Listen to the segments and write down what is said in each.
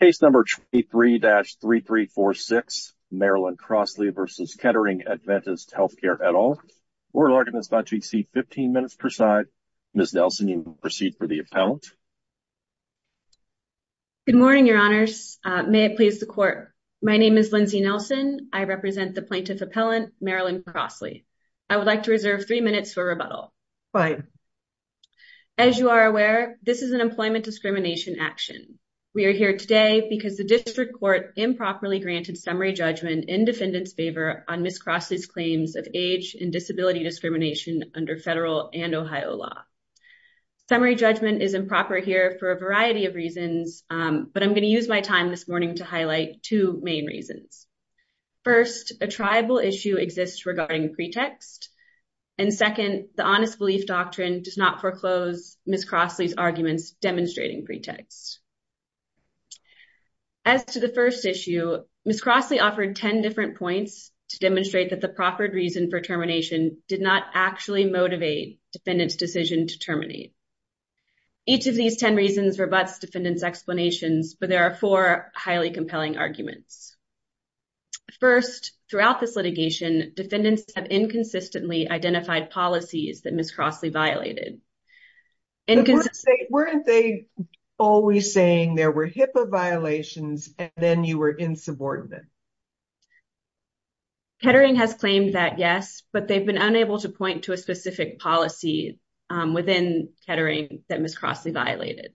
Case number 23-3346, Marilyn Crossley v. Kettering Adventist Healthcare et al. Oral arguments about to exceed 15 minutes per side. Ms. Nelson, you will proceed for the appellant. Good morning, your honors. May it please the court. My name is Lindsay Nelson. I represent the plaintiff appellant, Marilyn Crossley. I would like to reserve three minutes for rebuttal. Go ahead. As you are aware, this is an employment discrimination action. We are here today because the district court improperly granted summary judgment in defendant's favor on Ms. Crossley's claims of age and disability discrimination under federal and Ohio law. Summary judgment is improper here for a variety of reasons, but I'm going to use my time this morning to highlight two main reasons. First, a tribal issue exists regarding pretext. And second, the honest belief doctrine does not foreclose Ms. Crossley's arguments demonstrating pretext. As to the first issue, Ms. Crossley offered 10 different points to demonstrate that the proffered reason for termination did not actually motivate defendant's decision to terminate. Each of these 10 reasons defendants explanations, but there are four highly compelling arguments. First, throughout this litigation, defendants have inconsistently identified policies that Ms. Crossley violated. Weren't they always saying there were HIPAA violations and then you were insubordinate? Kettering has claimed that, yes, but they've been unable to point to a specific policy within Kettering that Ms. Crossley violated.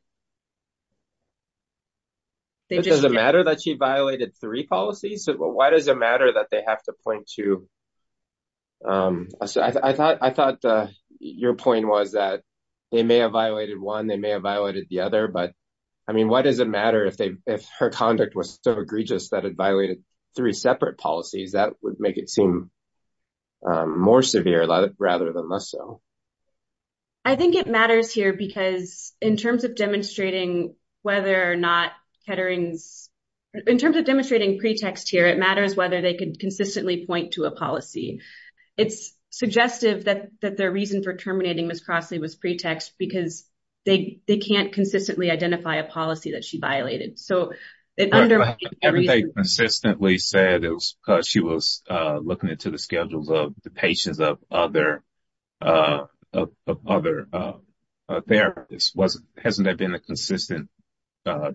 Does it matter that she violated three policies? Why does it matter that they have to point to... I thought your point was that they may have violated one, they may have violated the other, but I mean, why does it matter if her conduct was so egregious that it violated three separate policies that would make it seem more severe rather than less so? I think it matters here because in terms of demonstrating whether or not Kettering's... In terms of demonstrating pretext here, it matters whether they could consistently point to a policy. It's suggestive that their reason for terminating Ms. Crossley was pretext because they can't consistently identify a policy that she violated. Haven't they consistently said it was because she was looking into the schedules of the patients of other therapists? Hasn't there been a consistent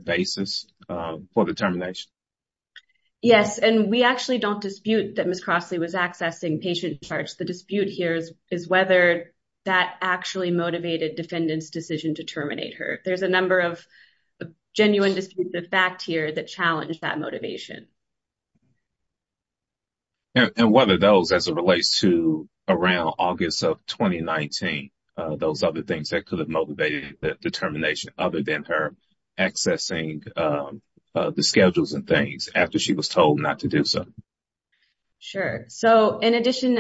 basis for the termination? Yes, and we actually don't dispute that Ms. Crossley was accessing patient charts. The dispute here is whether that actually motivated defendant's decision to terminate her. There's a number of genuine disputes of fact here that challenge that motivation. And whether those, as it relates to around August of 2019, those other things that could have motivated that determination other than her accessing the schedules and things after she was told not to do so? Sure. So, in addition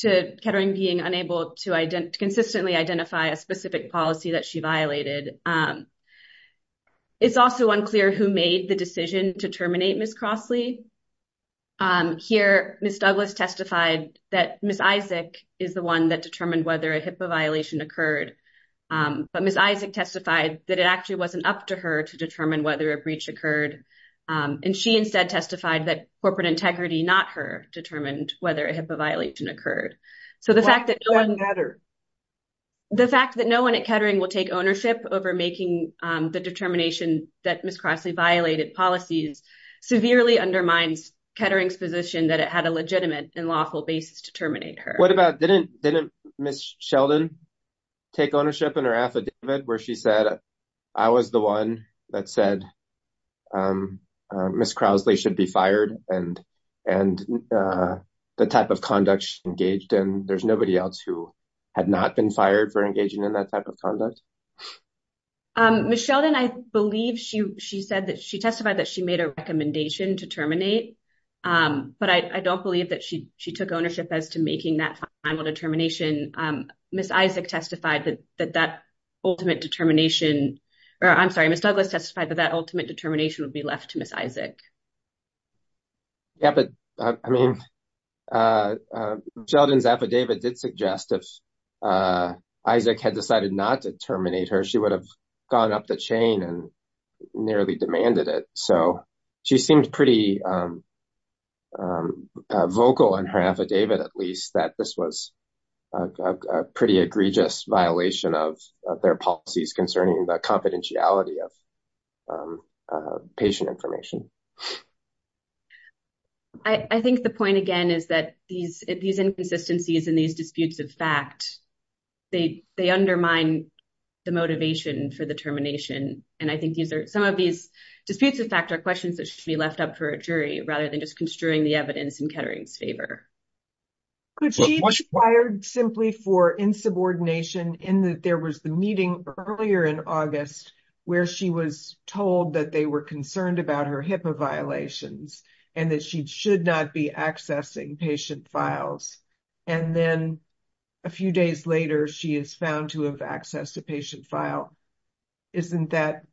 to Kettering being unable to consistently identify a specific policy that she violated, it's also unclear who made the decision to terminate Ms. Crossley. Here, Ms. Douglas testified that Ms. Isaac is the one that determined whether a HIPAA violation occurred. But Ms. Isaac testified that it actually wasn't up to her to determine whether a breach occurred. And she instead testified that corporate integrity, not her, determined whether a HIPAA violation occurred. Why not Kettering? The fact that no one at Kettering will take ownership over making the determination that Ms. Crossley violated policies severely undermines Kettering's position that it had a legitimate and lawful basis to terminate her. What about, didn't Ms. Sheldon take ownership in her affidavit where she said, I was the one that said Ms. Crossley should be fired and the type of conduct she engaged in? There's nobody else who had not been fired for engaging in that type of conduct? Ms. Sheldon, I believe she testified that she made a recommendation to terminate, but I don't believe that she took ownership as to making that final determination. Ms. Isaac testified that that ultimate determination, or I'm sorry, Ms. Douglas testified that that ultimate determination would be left to Ms. Isaac. Yeah, but I mean, Sheldon's affidavit did suggest if Isaac had decided not to terminate her, she would have gone up the chain and nearly demanded it. So she seemed pretty vocal in her affidavit, at least, that this was a pretty egregious violation of their policies concerning the confidentiality of patient information. I think the point, again, is that these inconsistencies and these disputes of fact, they undermine the motivation for the termination. And I think some of these disputes of fact are questions that should be left up for a jury, rather than just construing the evidence in Kettering's favor. Could she be fired simply for insubordination in that there was the meeting earlier in August where she was told that they were concerned about her HIPAA violations and that she should not be accessing patient files? And then a few days later, she is found to have accessed a patient file. Isn't that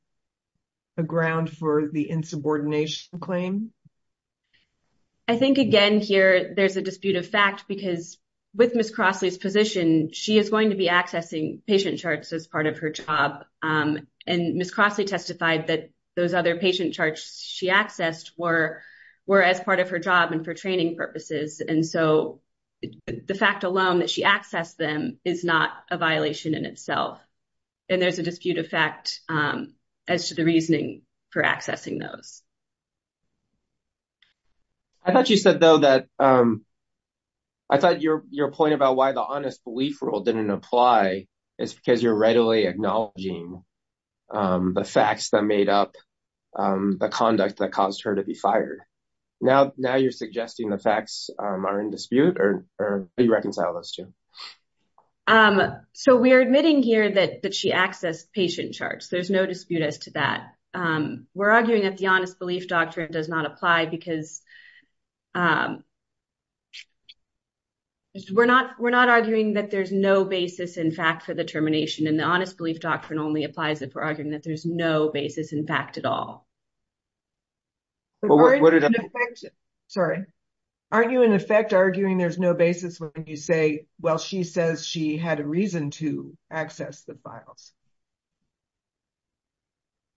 a ground for the insubordination claim? I think, again, here there's a dispute of fact because with Ms. Crossley's position, she is going to be accessing patient charts as part of her job. And Ms. Crossley testified that those other patient charts she accessed were as part of her job and for training purposes. And so, the fact alone that she accessed them is not a violation in itself. And there's a dispute of fact as to the reasoning for accessing those. I thought you said, though, that I thought your point about why the honest belief rule didn't apply is because you're readily acknowledging the facts that made up the conduct that caused her to be fired. Now, you're suggesting the facts are in dispute or you reconcile those two? So, we're admitting here that she accessed patient charts. There's no dispute as to that. We're arguing that the honest belief doctrine does not apply because we're not arguing that there's no basis in fact for the termination. And the honest belief doctrine only applies if we're arguing that there's no basis in fact at all. What are the facts? Sorry. Aren't you, in effect, arguing there's no basis when you say, well, she says she had a reason to access the files?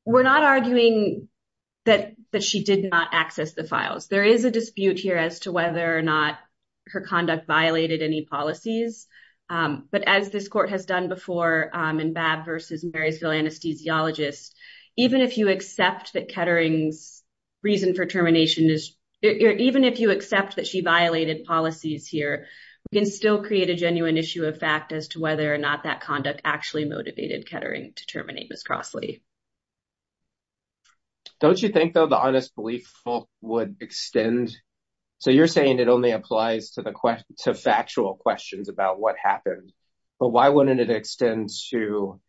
We're not arguing that she did not access the files. There is a dispute here as to whether or not her conduct violated any policies. But as this court has done before in Babb versus Marysville Anesthesiologist, even if you accept that Kettering's reason for termination is, even if you accept that she violated policies here, we can still create a genuine issue of as to whether or not that conduct actually motivated Kettering to terminate Ms. Crosley. Don't you think, though, the honest belief would extend? So, you're saying it only applies to factual questions about what happened. But why wouldn't it extend to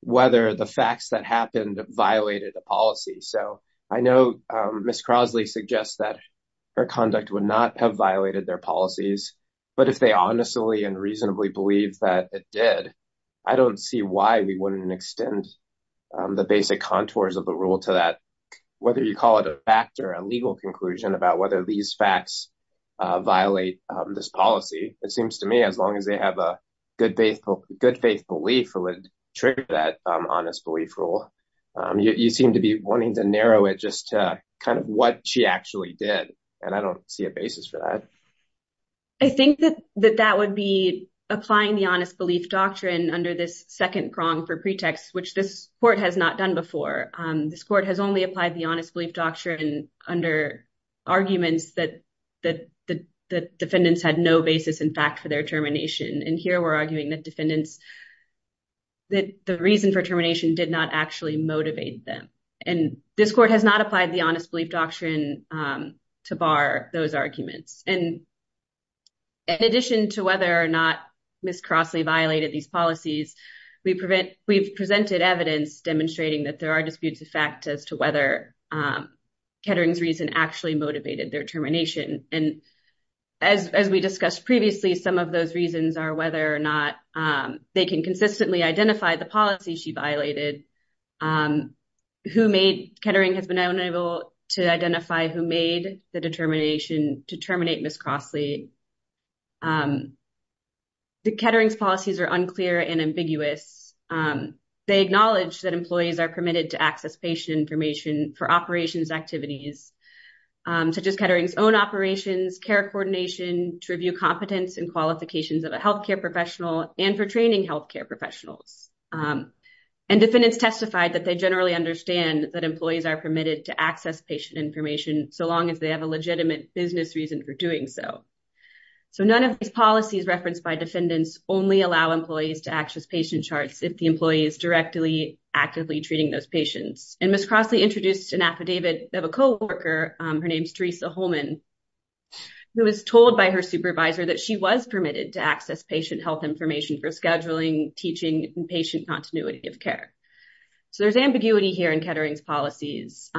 whether the facts that happened violated the policy? So, I know Ms. Crosley suggests that her conduct would not have violated their policies. But if they honestly and reasonably believe that it did, I don't see why we wouldn't extend the basic contours of the rule to that, whether you call it a fact or a legal conclusion about whether these facts violate this policy. It seems to me, as long as they have a good faith belief, it would trigger that honest belief rule. You seem to be wanting to narrow it just to kind of what she actually did. And I don't see a basis for that. I think that that would be applying the honest belief doctrine under this second prong for pretext, which this court has not done before. This court has only applied the honest belief doctrine under arguments that the defendants had no basis, in fact, for their termination. And here we're arguing that defendants, that the reason for termination did not actually motivate them. And this court has not applied the honest belief doctrine to bar those arguments. And in addition to whether or not Ms. Crosley violated these policies, we've presented evidence demonstrating that there are disputes of fact as to whether Kettering's reason actually motivated their termination. And as we discussed previously, some of those reasons are whether or they can consistently identify the policy she violated. Kettering has been unable to identify who made the determination to terminate Ms. Crosley. Kettering's policies are unclear and ambiguous. They acknowledge that employees are permitted to access patient information for operations activities, such as Kettering's own operations, care coordination, to review competence and qualifications of a healthcare professional and for training healthcare professionals. And defendants testified that they generally understand that employees are permitted to access patient information so long as they have a legitimate business reason for doing so. So none of these policies referenced by defendants only allow employees to access patient charts if the employee is directly actively treating those patients. And Ms. Crosley introduced an affidavit of a coworker, her name's Teresa Holman, who was told by her supervisor that she was permitted to access patient health information for scheduling, teaching, and patient continuity of care. So there's ambiguity here in Kettering's policies,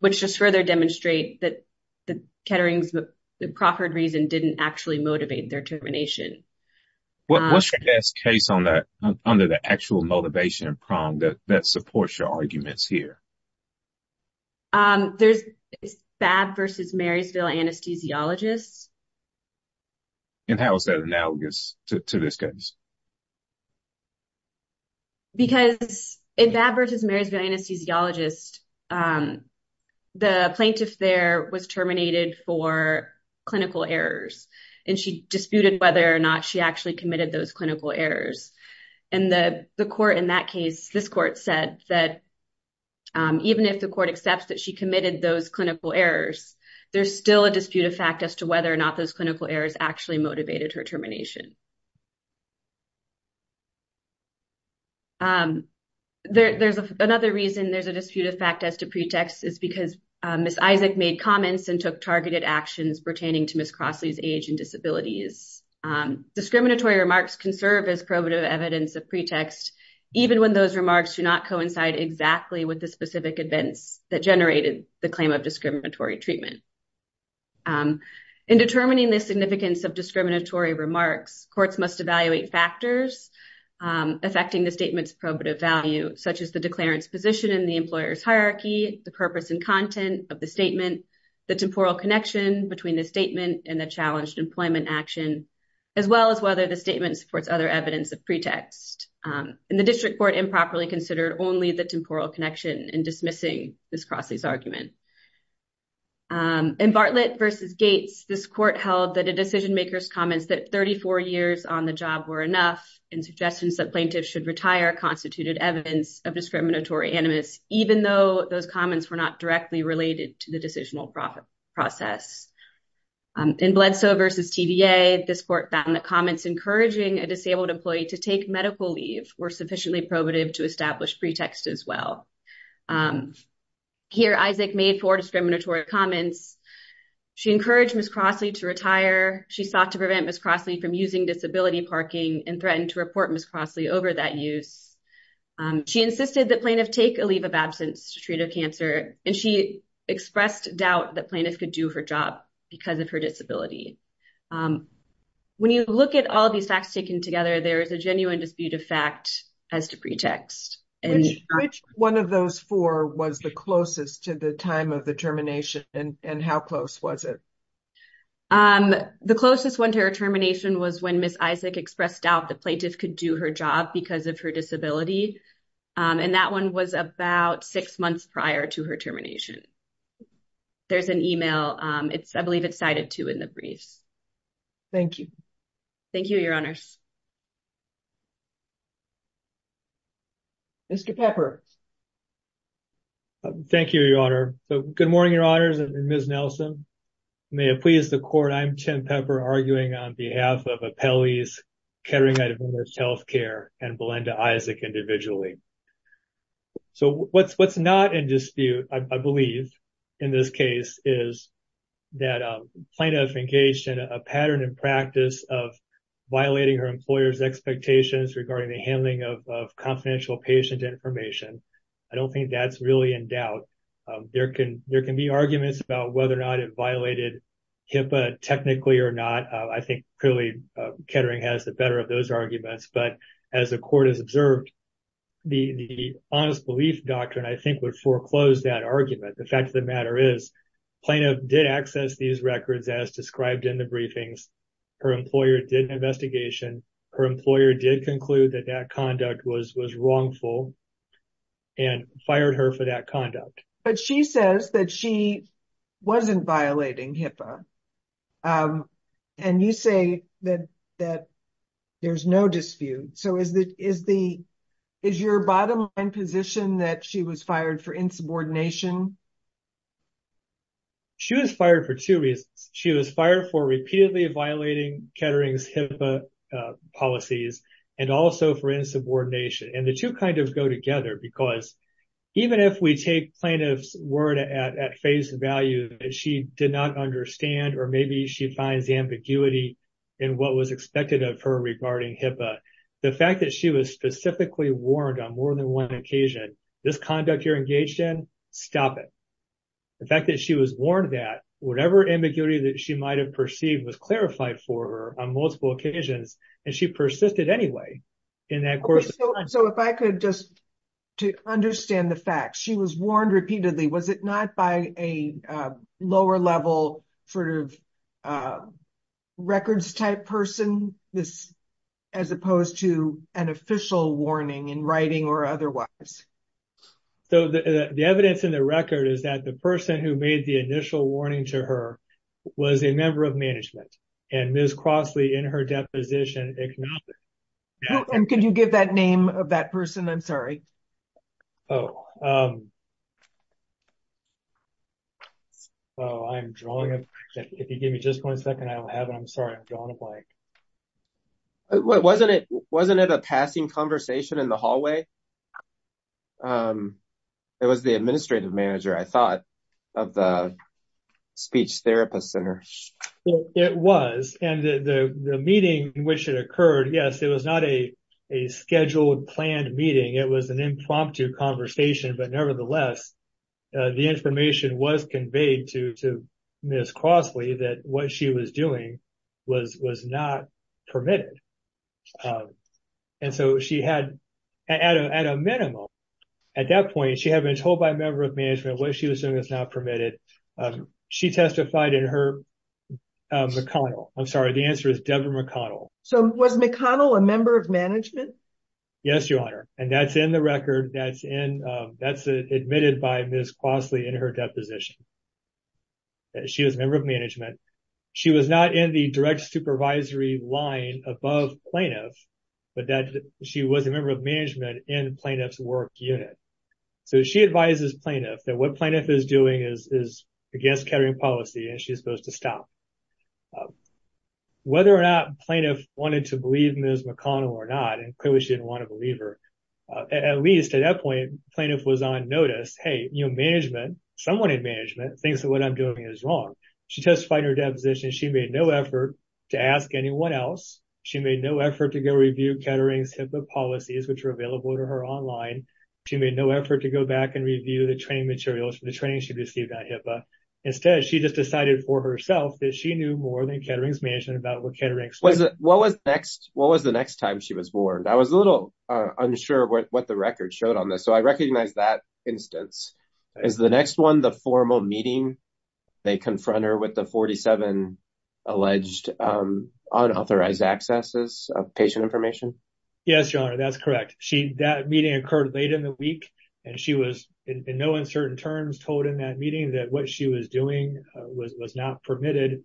which just further demonstrate that the Kettering's proffered reason didn't actually motivate their termination. What's your best case on that, under the actual motivation prong that supports your arguments here? There's Babb v. Marysville Anesthesiologists. And how is that analogous to this case? Because in Babb v. Marysville Anesthesiologists, the plaintiff there was terminated for clinical errors, and she disputed whether or not she actually committed those clinical errors. And the court in that case, this court said that even if the court accepts that she committed those clinical errors, there's still a dispute of fact as to whether or not those clinical errors actually motivated her termination. There's another reason there's a dispute of fact as to pretext is because Ms. Isaac made comments and took targeted actions pertaining to Ms. Crosley's age and disabilities. Discriminatory remarks can serve as probative evidence of pretext, even when those remarks do not coincide exactly with the specific events that generated the claim of discriminatory treatment. In determining the significance of discriminatory remarks, courts must evaluate factors affecting the statement's probative value, such as the declarant's position in the employer's hierarchy, the purpose and content of the statement, the temporal connection between the statement and the challenged employment action, as well as whether the statement supports other evidence of pretext. And the district court improperly considered only the temporal connection in dismissing Ms. Crosley's argument. In Bartlett v. Gates, this court held that a decision maker's comments that 34 years on the job were enough and suggestions that plaintiffs should retire constituted evidence of discriminatory animus, even though those comments were not directly related to the decisional process. In Bledsoe v. TVA, this court found that comments encouraging a disabled employee to take medical leave were sufficiently probative to establish pretext as well. Here, Isaac made four discriminatory comments. She encouraged Ms. Crosley to retire. She sought to prevent Ms. Crosley from using disability parking and threatened to report Ms. Crosley over that use. She insisted that plaintiffs take a leave of absence to treat of cancer, and she expressed doubt that plaintiffs could do her job because of her disability. When you look at all these facts taken together, there is a genuine dispute of fact as to pretext. Which one of those four was the closest to the time of the termination, and how close was it? The closest one to her termination was when Ms. Isaac expressed doubt that plaintiffs could do her job because of her disability, and that one was about six months prior to her termination. There's an email. I believe it's cited, too, in the briefs. Thank you. Thank you, Your Honors. Mr. Pepper. Thank you, Your Honor. Good morning, Your Honors and Ms. Nelson. May it please the court, I'm Tim Pepper, arguing on behalf of Apelli's Healthcare and Belinda Isaac individually. What's not in dispute, I believe, in this case, is that plaintiff engaged in a pattern and practice of violating her employer's expectations regarding the handling of confidential patient information. I don't think that's really in doubt. There can be arguments about whether or not it violated HIPAA technically or not. I think, clearly, Kettering has the better of those arguments, but as the court has observed, the honest belief doctrine, I think, would foreclose that argument. The fact of the matter is plaintiff did access these records as described in the briefings. Her employer did an investigation. Her employer did conclude that that conduct was wrongful and fired her for that conduct. She says that she wasn't violating HIPAA. You say that there's no dispute. Is your bottom line position that she was fired for insubordination? She was fired for two reasons. She was fired for repeatedly violating Kettering's HIPAA policies and also for insubordination. The two go together because even if we take plaintiff's word at face value that she did not understand or maybe she finds ambiguity in what was expected of her regarding HIPAA, the fact that she was specifically warned on more than one occasion, this conduct you're engaged in, stop it. The fact that she was warned that whatever ambiguity that she might have perceived was clarified for her on multiple occasions, and she persisted anyway in that course of time. If I could just to understand the fact, she was warned repeatedly. Was it not by a lower level records type person as opposed to an official warning in writing or otherwise? The evidence in the record is that the person who made the initial warning to her was a member of management and Ms. Crossley in her deposition acknowledged it. Can you give that name of that person? I'm sorry. I'm drawing a blank. If you give me just one second, I don't have it. I'm sorry. I'm drawing a blank. Wasn't it a passing conversation in the hallway? It was the administrative manager, I thought, of the speech therapist center. It was. The meeting in which it occurred, yes, it was not a scheduled planned meeting. It was an impromptu conversation, but nevertheless, the information was conveyed to Ms. Crossley that what she was doing was not permitted. At that point, she had been told by a member of management what she was doing was not permitted. She testified in her McConnell. I'm sorry. The answer is Deborah McConnell. Was McConnell a member of management? Yes, Your Honor. That's in the record. That's admitted by Ms. Crossley in her deposition. She was a member of management. She was not in the supervisory line above plaintiff, but that she was a member of management in plaintiff's work unit. She advises plaintiff that what plaintiff is doing is against carrying policy and she's supposed to stop. Whether or not plaintiff wanted to believe Ms. McConnell or not, and clearly she didn't want to believe her, at least at that point, plaintiff was on notice. Hey, management, someone in management thinks that what I'm doing is wrong. She testified in her deposition. She made no effort to ask anyone else. She made no effort to go review Kettering's HIPAA policies, which were available to her online. She made no effort to go back and review the training materials for the training she received at HIPAA. Instead, she just decided for herself that she knew more than Kettering's management about what Kettering's... What was the next time she was warned? I was a little unsure of what the record showed on this, so I recognize that instance. Is the next one the formal meeting? They confront her with the 47 alleged unauthorized accesses of patient information? Yes, your honor, that's correct. That meeting occurred late in the week and she was in no uncertain terms told in that meeting that what she was doing was not permitted.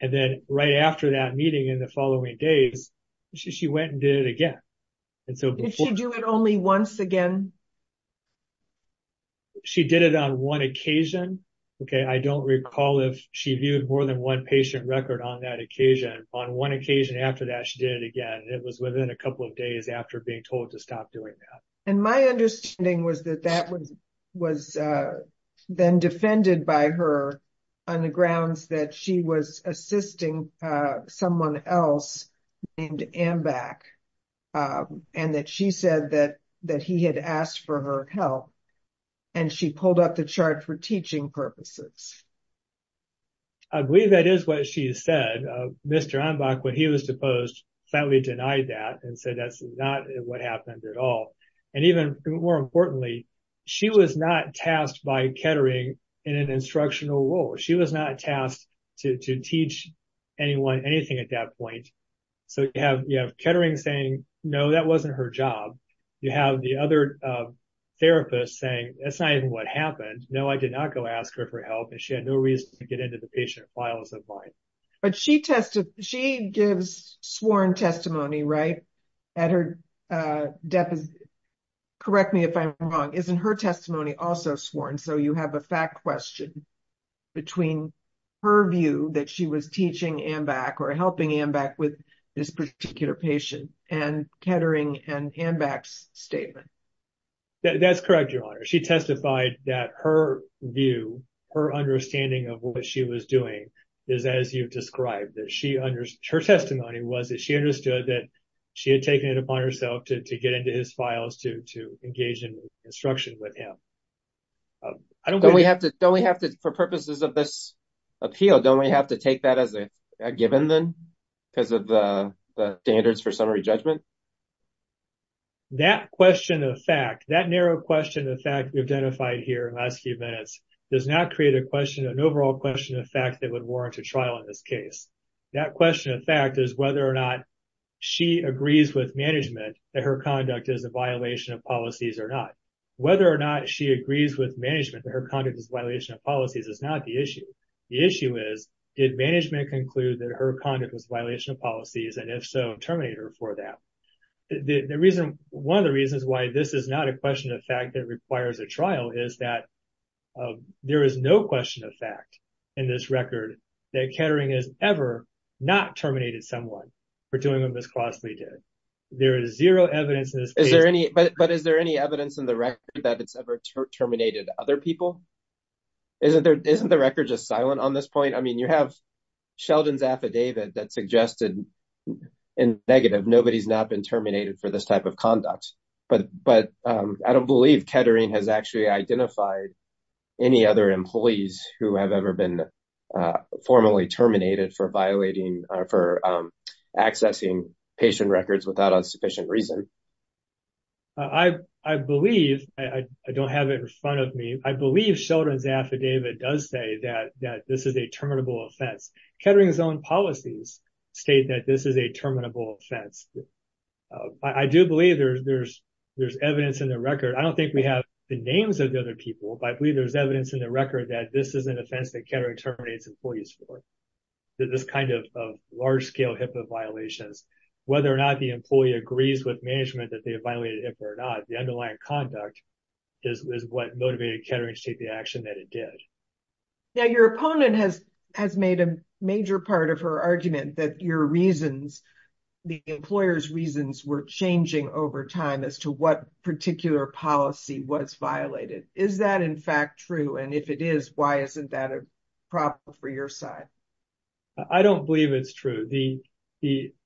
And then right after that meeting in the following days, she went and did it again. Did she do it only once again? She did it on one occasion. I don't recall if she viewed more than one patient record on that occasion. On one occasion after that, she did it again. It was within a couple of days after being told to stop doing that. And my understanding was that that was then defended by her on the and that she said that he had asked for her help and she pulled up the chart for teaching purposes. I believe that is what she said. Mr. Anbach, when he was deposed, flatly denied that and said that's not what happened at all. And even more importantly, she was not tasked by Kettering in an instructional role. She was not tasked to teach anything at that point. So you have Kettering saying, no, that wasn't her job. You have the other therapist saying, that's not even what happened. No, I did not go ask her for help and she had no reason to get into the patient files of mine. But she gives sworn testimony, right? Correct me if I'm wrong. Isn't her testimony also sworn? So you have a fact question between her view that she was teaching Anbach or helping Anbach with this particular patient and Kettering and Anbach's statement. That's correct, Your Honor. She testified that her view, her understanding of what she was doing is as you've described. Her testimony was that she understood that she had taken it upon herself to get into his files to engage in instruction with him. For purposes of this appeal, don't we have to take that as a given then because of the standards for summary judgment? That question of fact, that narrow question of fact we identified here in the last few minutes does not create an overall question of fact that would warrant a trial in this case. That question of fact is whether or not she agrees with management that her conduct is a violation of policies or not. Whether or not she agrees with management that her conduct is a violation of policies is not the issue. The issue is did management conclude that her conduct was a violation of policies and if so terminate her for that? One of the reasons why this is not a question of fact that requires a trial is that there is no question of fact in this record that Kettering has ever not terminated someone for doing what Ms. Crossley did. There is zero evidence. But is there any evidence in the record that it's ever terminated other people? Isn't there isn't the record just silent on this point? I mean you have Sheldon's affidavit that suggested in negative nobody's not been terminated for this type of conduct. But I don't believe Kettering has actually identified any other employees who have ever been formally terminated for violating for accessing patient records without unsufficient reason. I believe, I don't have it in front of me, I believe Sheldon's affidavit does say that this is a terminable offense. Kettering's own policies state that this is a terminable offense. I do believe there's evidence in the record. I don't think we have the names of the other people, but I believe there's evidence in the record that this is an offense that Kettering terminates employees for. This kind of large-scale HIPAA violations, whether or not the employee agrees with management that they have violated HIPAA or not, the underlying conduct is what motivated Kettering to take the action that it did. Now your opponent has made a major part of her argument that your reasons, the employer's reasons, were changing over time as to what particular policy was violated. Is that in fact true? And if it is, why isn't that a problem for your side? I don't believe it's true.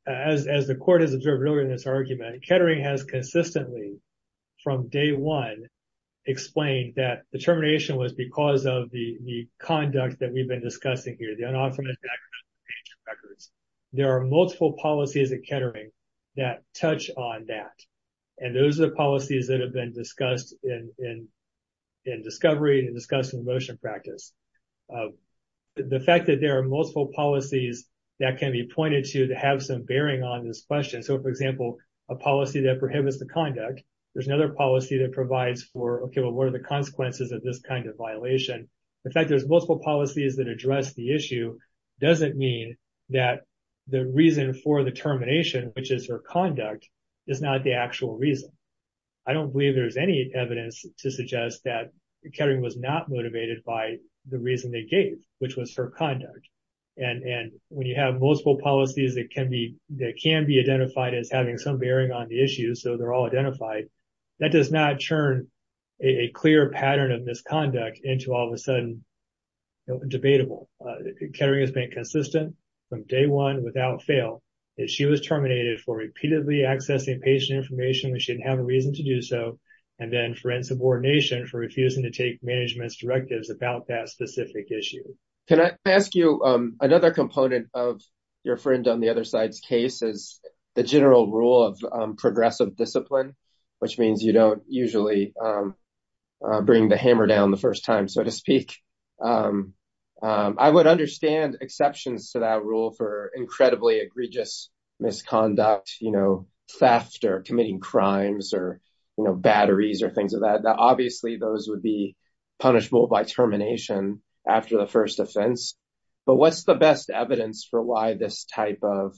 As the court has observed earlier in this argument, Kettering has consistently, from day one, explained that the termination was because of the conduct that we've been discussing here, the unauthorized access to patient records. There are multiple policies at Kettering that touch on that, and those are the policies that have been discussed in discovery and discussed in motion practice. The fact that there are multiple policies that can be pointed to to have some bearing on this question, so for example, a policy that prohibits the conduct, there's another policy that provides for, okay, well, what are the consequences of this kind of violation? The fact there's multiple policies that address the issue doesn't mean that the reason for the termination, which is her conduct, is not the actual reason. I don't believe there's any evidence to suggest that Kettering was not motivated by the reason they gave, which was her conduct. And when you have multiple policies that can be identified as having some bearing on the issue, so they're all identified, that does not turn a clear pattern of misconduct into all of a sudden debatable. Kettering has been consistent from day one without fail. If she was terminated for repeatedly accessing patient information, we shouldn't have a reason to do so, and then for insubordination for refusing to take management's directives about that specific issue. Can I ask you another component of your friend on the other side's case is the general rule of progressive discipline, which means you don't usually bring the hammer down the first time, so to speak. I would understand exceptions to that rule for incredibly egregious misconduct, you know, theft or committing crimes or, you know, batteries or things of that. Now, obviously, those would be punishable by termination after the first offense, but what's the best evidence for why this type of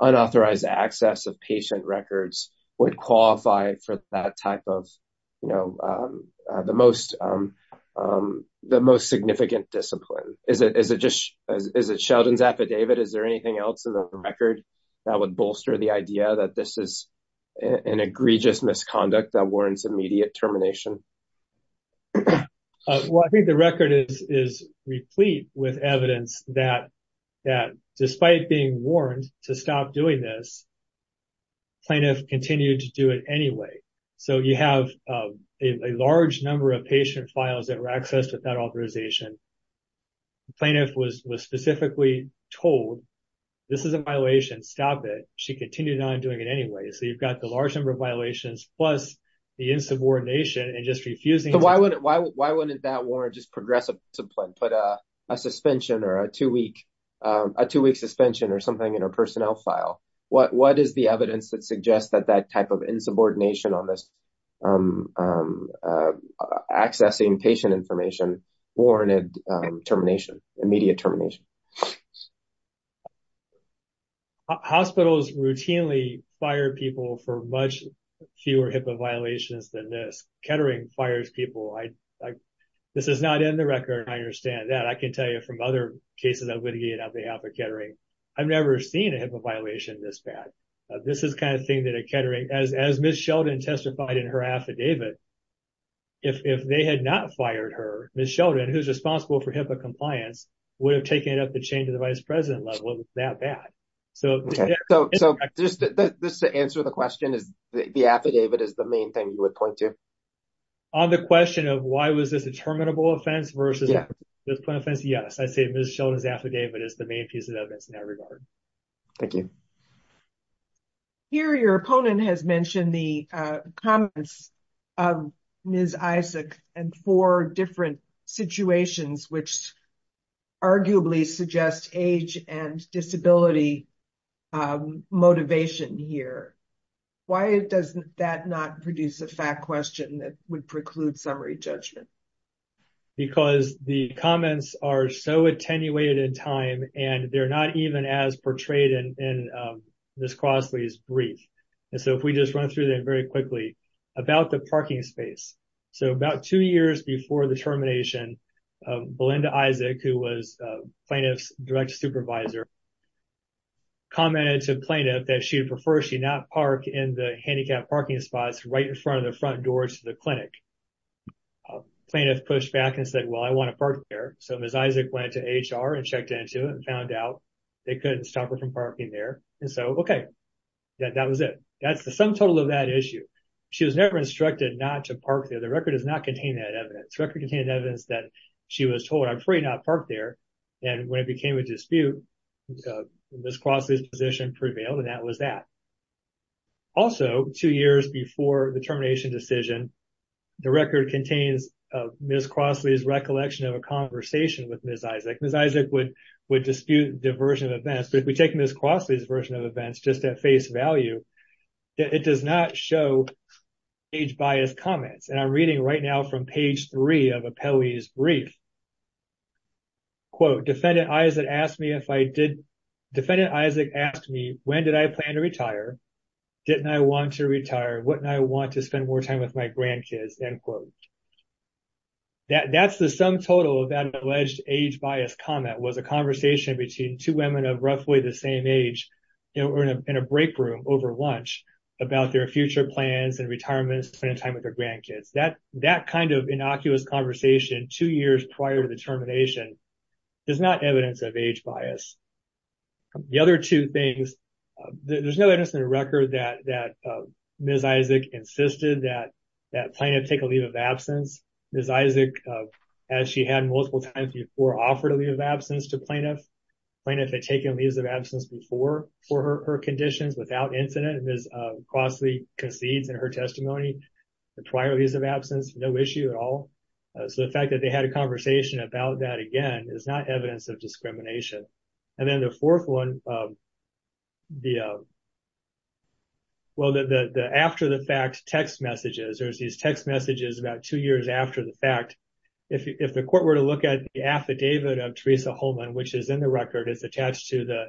unauthorized access of patient records would qualify for that type of, you know, the most significant discipline? Is it Sheldon's affidavit? Is there anything else in the record that would bolster the idea that this is an egregious misconduct that warrants immediate termination? Well, I think the record is replete with evidence that despite being warned to stop doing this, plaintiff continued to do it anyway. So, you have a large number of patient files that were accessed without authorization. Plaintiff was specifically told, this is a violation, stop it. She continued on doing it anyway. So, you've got the large number of violations plus the insubordination and just refusing. Why wouldn't that warrant just progressive discipline, put a suspension or a two-week suspension or something in a personnel file? What is the evidence that suggests that that type of insubordination on this accessing patient information warranted termination, immediate termination? Hospitals routinely fire people for much fewer HIPAA violations than this. Kettering fires people. This is not in the record. I understand that. I can tell you from other cases I've litigated on behalf of Kettering, I've never seen a HIPAA violation this bad. This is the kind of thing that a Kettering, as Ms. Sheldon testified in her affidavit, if they had not fired her, Ms. Sheldon, who's responsible for HIPAA compliance, would have taken it up the chain to the vice president level that that. So, just to answer the question, the affidavit is the main thing you would point to? On the question of why was this a terminable offense versus a discipline offense? Yes, I say Ms. Sheldon's affidavit is the main piece of evidence in that regard. Thank you. Here, your opponent has mentioned the comments of Ms. Isaac and four different situations, which arguably suggest age and disability motivation here. Why does that not produce a fact question that would preclude summary judgment? Because the comments are so attenuated in time, and they're not even as portrayed in Ms. Crossley's brief. So, if we just Belinda Isaac, who was plaintiff's direct supervisor, commented to plaintiff that she'd prefer she not park in the handicapped parking spots right in front of the front door to the clinic. Plaintiff pushed back and said, well, I want to park there. So, Ms. Isaac went to HR and checked into it and found out they couldn't stop her from parking there. And so, okay, that was it. That's the sum total of that issue. She was never instructed not to park there. The record contained evidence that she was told, I'm afraid not park there. And when it became a dispute, Ms. Crossley's position prevailed, and that was that. Also, two years before the termination decision, the record contains Ms. Crossley's recollection of a conversation with Ms. Isaac. Ms. Isaac would dispute the version of events, but if we take Ms. Crossley's version of events just at face value, it does not show age-biased comments. And I'm reading right now from page three of a Pelley's brief. Quote, defendant Isaac asked me if I did, defendant Isaac asked me, when did I plan to retire? Didn't I want to retire? Wouldn't I want to spend more time with my grandkids? End quote. That's the sum total of that alleged age-biased comment, was a conversation between two women of roughly the same age in a break room over lunch about their future plans and retirement, spending time with their grandkids. That kind of innocuous conversation two years prior to the termination is not evidence of age bias. The other two things, there's no evidence in the record that Ms. Isaac insisted that plaintiff take a leave of absence. Ms. Isaac, as she had multiple times before, offered a leave of absence to plaintiff. Plaintiff had taken a leave of absence before for her conditions without incident. Ms. Crossley concedes in her testimony the prior leave of absence, no issue at all. So the fact that they had a conversation about that again is not evidence of discrimination. And then the fourth one, well, the after the fact text messages, there's these text messages about two years after the if the court were to look at the affidavit of Teresa Holman, which is in the record, it's attached to the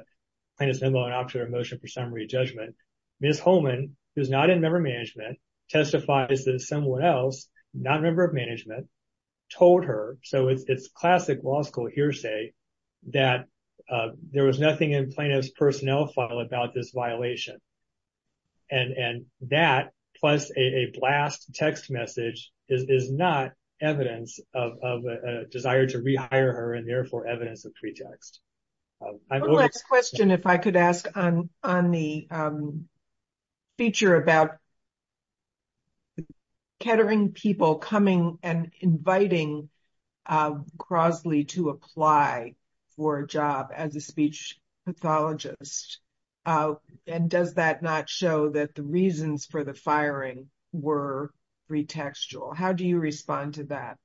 plaintiff's memo and option of motion for summary judgment. Ms. Holman, who's not in member management, testifies that someone else, not a member of management, told her, so it's classic law school hearsay, that there was nothing in plaintiff's of desire to rehire her and therefore evidence of pretext. I have one last question if I could ask on the feature about catering people coming and inviting Crossley to apply for a job as a speech pathologist. And does that not show that the reasons for the firing were pretextual? How do you respond to that?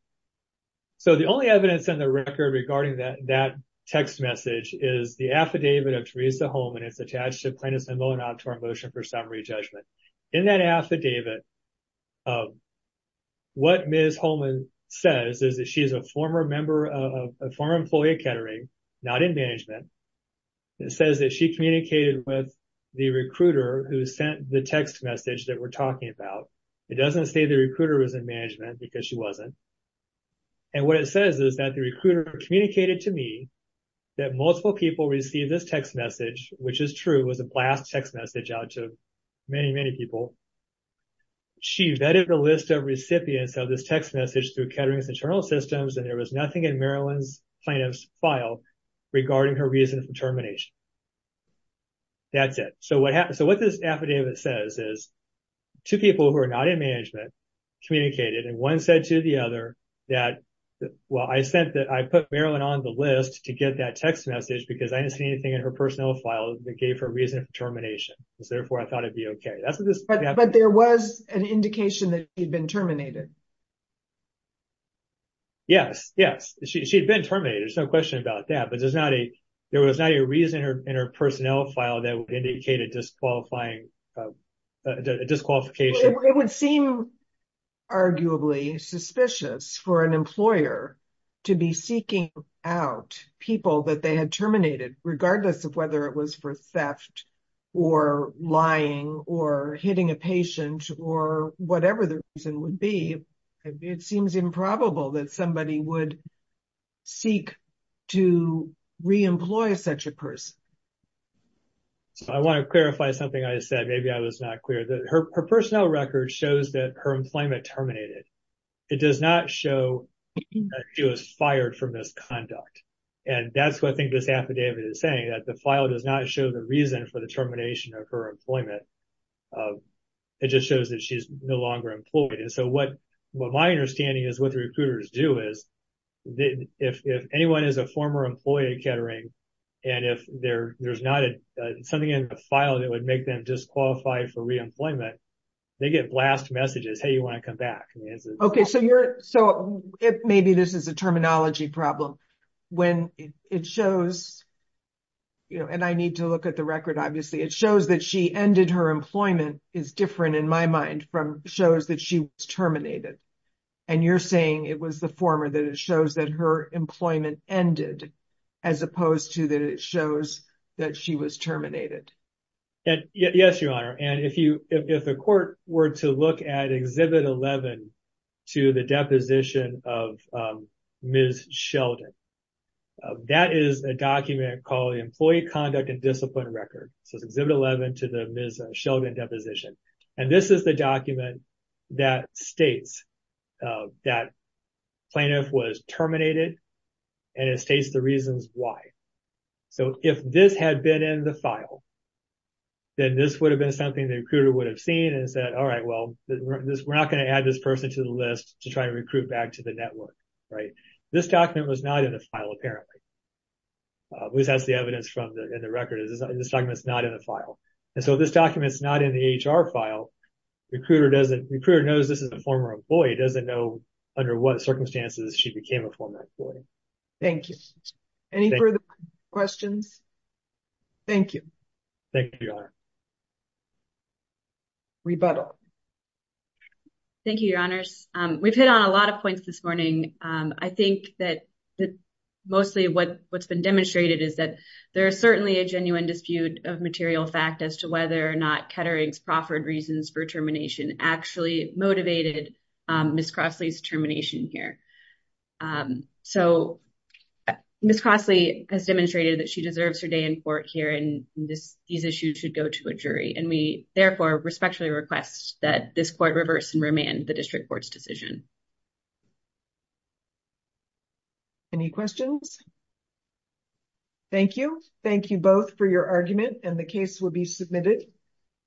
So the only evidence on the record regarding that text message is the affidavit of Teresa Holman. It's attached to plaintiff's memo and option of motion for summary judgment. In that affidavit, what Ms. Holman says is that she is a former employee of catering, not in management. It says that she communicated with the recruiter who sent the text message that we're talking about. It doesn't say the recruiter was in management because she wasn't. And what it says is that the recruiter communicated to me that multiple people received this text message, which is true, it was a blast text message out to many, many people. She vetted the list of recipients of this text message through catering's internal systems and there was nothing in Maryland's plaintiff's file regarding her reason for termination. That's it. So what this affidavit says is two people who are not in management communicated and one said to the other that, well, I sent that, I put Maryland on the list to get that text message because I didn't see anything in her personnel file that gave her a reason for termination. So therefore, I thought it'd be okay. But there was an indication that she'd been terminated. Yes, yes. She had been terminated. There's no question about that, but there was not a reason in her personnel file that would indicate a disqualification. It would seem arguably suspicious for an employer to be seeking out people that they had terminated, regardless of whether it was for theft or lying or hitting a patient or whatever the reason would be. It seems improbable that somebody would seek to re-employ such a person. So I want to clarify something I said. Maybe I was not clear. Her personnel record shows that her employment terminated. It does not show that she was fired for misconduct. And that's what I think this affidavit is saying, that the file does not show the reason for the termination of her employment. It just shows that she's no longer employed. And so what my understanding is what if there's not something in the file that would make them disqualified for re-employment, they get blast messages, hey, you want to come back? Okay, so maybe this is a terminology problem. When it shows, and I need to look at the record, obviously, it shows that she ended her employment is different in my mind from shows that she was terminated. And you're saying it was the shows that her employment ended, as opposed to that it shows that she was terminated. Yes, Your Honor. And if the court were to look at Exhibit 11 to the deposition of Ms. Sheldon, that is a document called the Employee Conduct and Discipline Record. So it's Exhibit 11 to the Ms. Sheldon deposition. And this is the document that states that plaintiff was terminated, and it states the reasons why. So if this had been in the file, then this would have been something the recruiter would have seen and said, all right, well, we're not going to add this person to the list to try to recruit back to the network, right? This document was not in the file, apparently, at least that's the evidence from the record, this document is not in the file. And so this document is not in the HR file. Recruiter knows this is a former employee, doesn't know under what circumstances she became a former employee. Thank you. Any further questions? Thank you. Thank you, Your Honor. Rebuttal. Thank you, Your Honors. We've hit on a lot of points this morning. I think that mostly what's demonstrated is that there is certainly a genuine dispute of material fact as to whether or not Kettering's proffered reasons for termination actually motivated Ms. Crossley's termination here. So Ms. Crossley has demonstrated that she deserves her day in court here and these issues should go to a jury. And we therefore respectfully request that this court reverse and remand the district court's decision. Any questions? Thank you. Thank you both for your argument and the case will be submitted.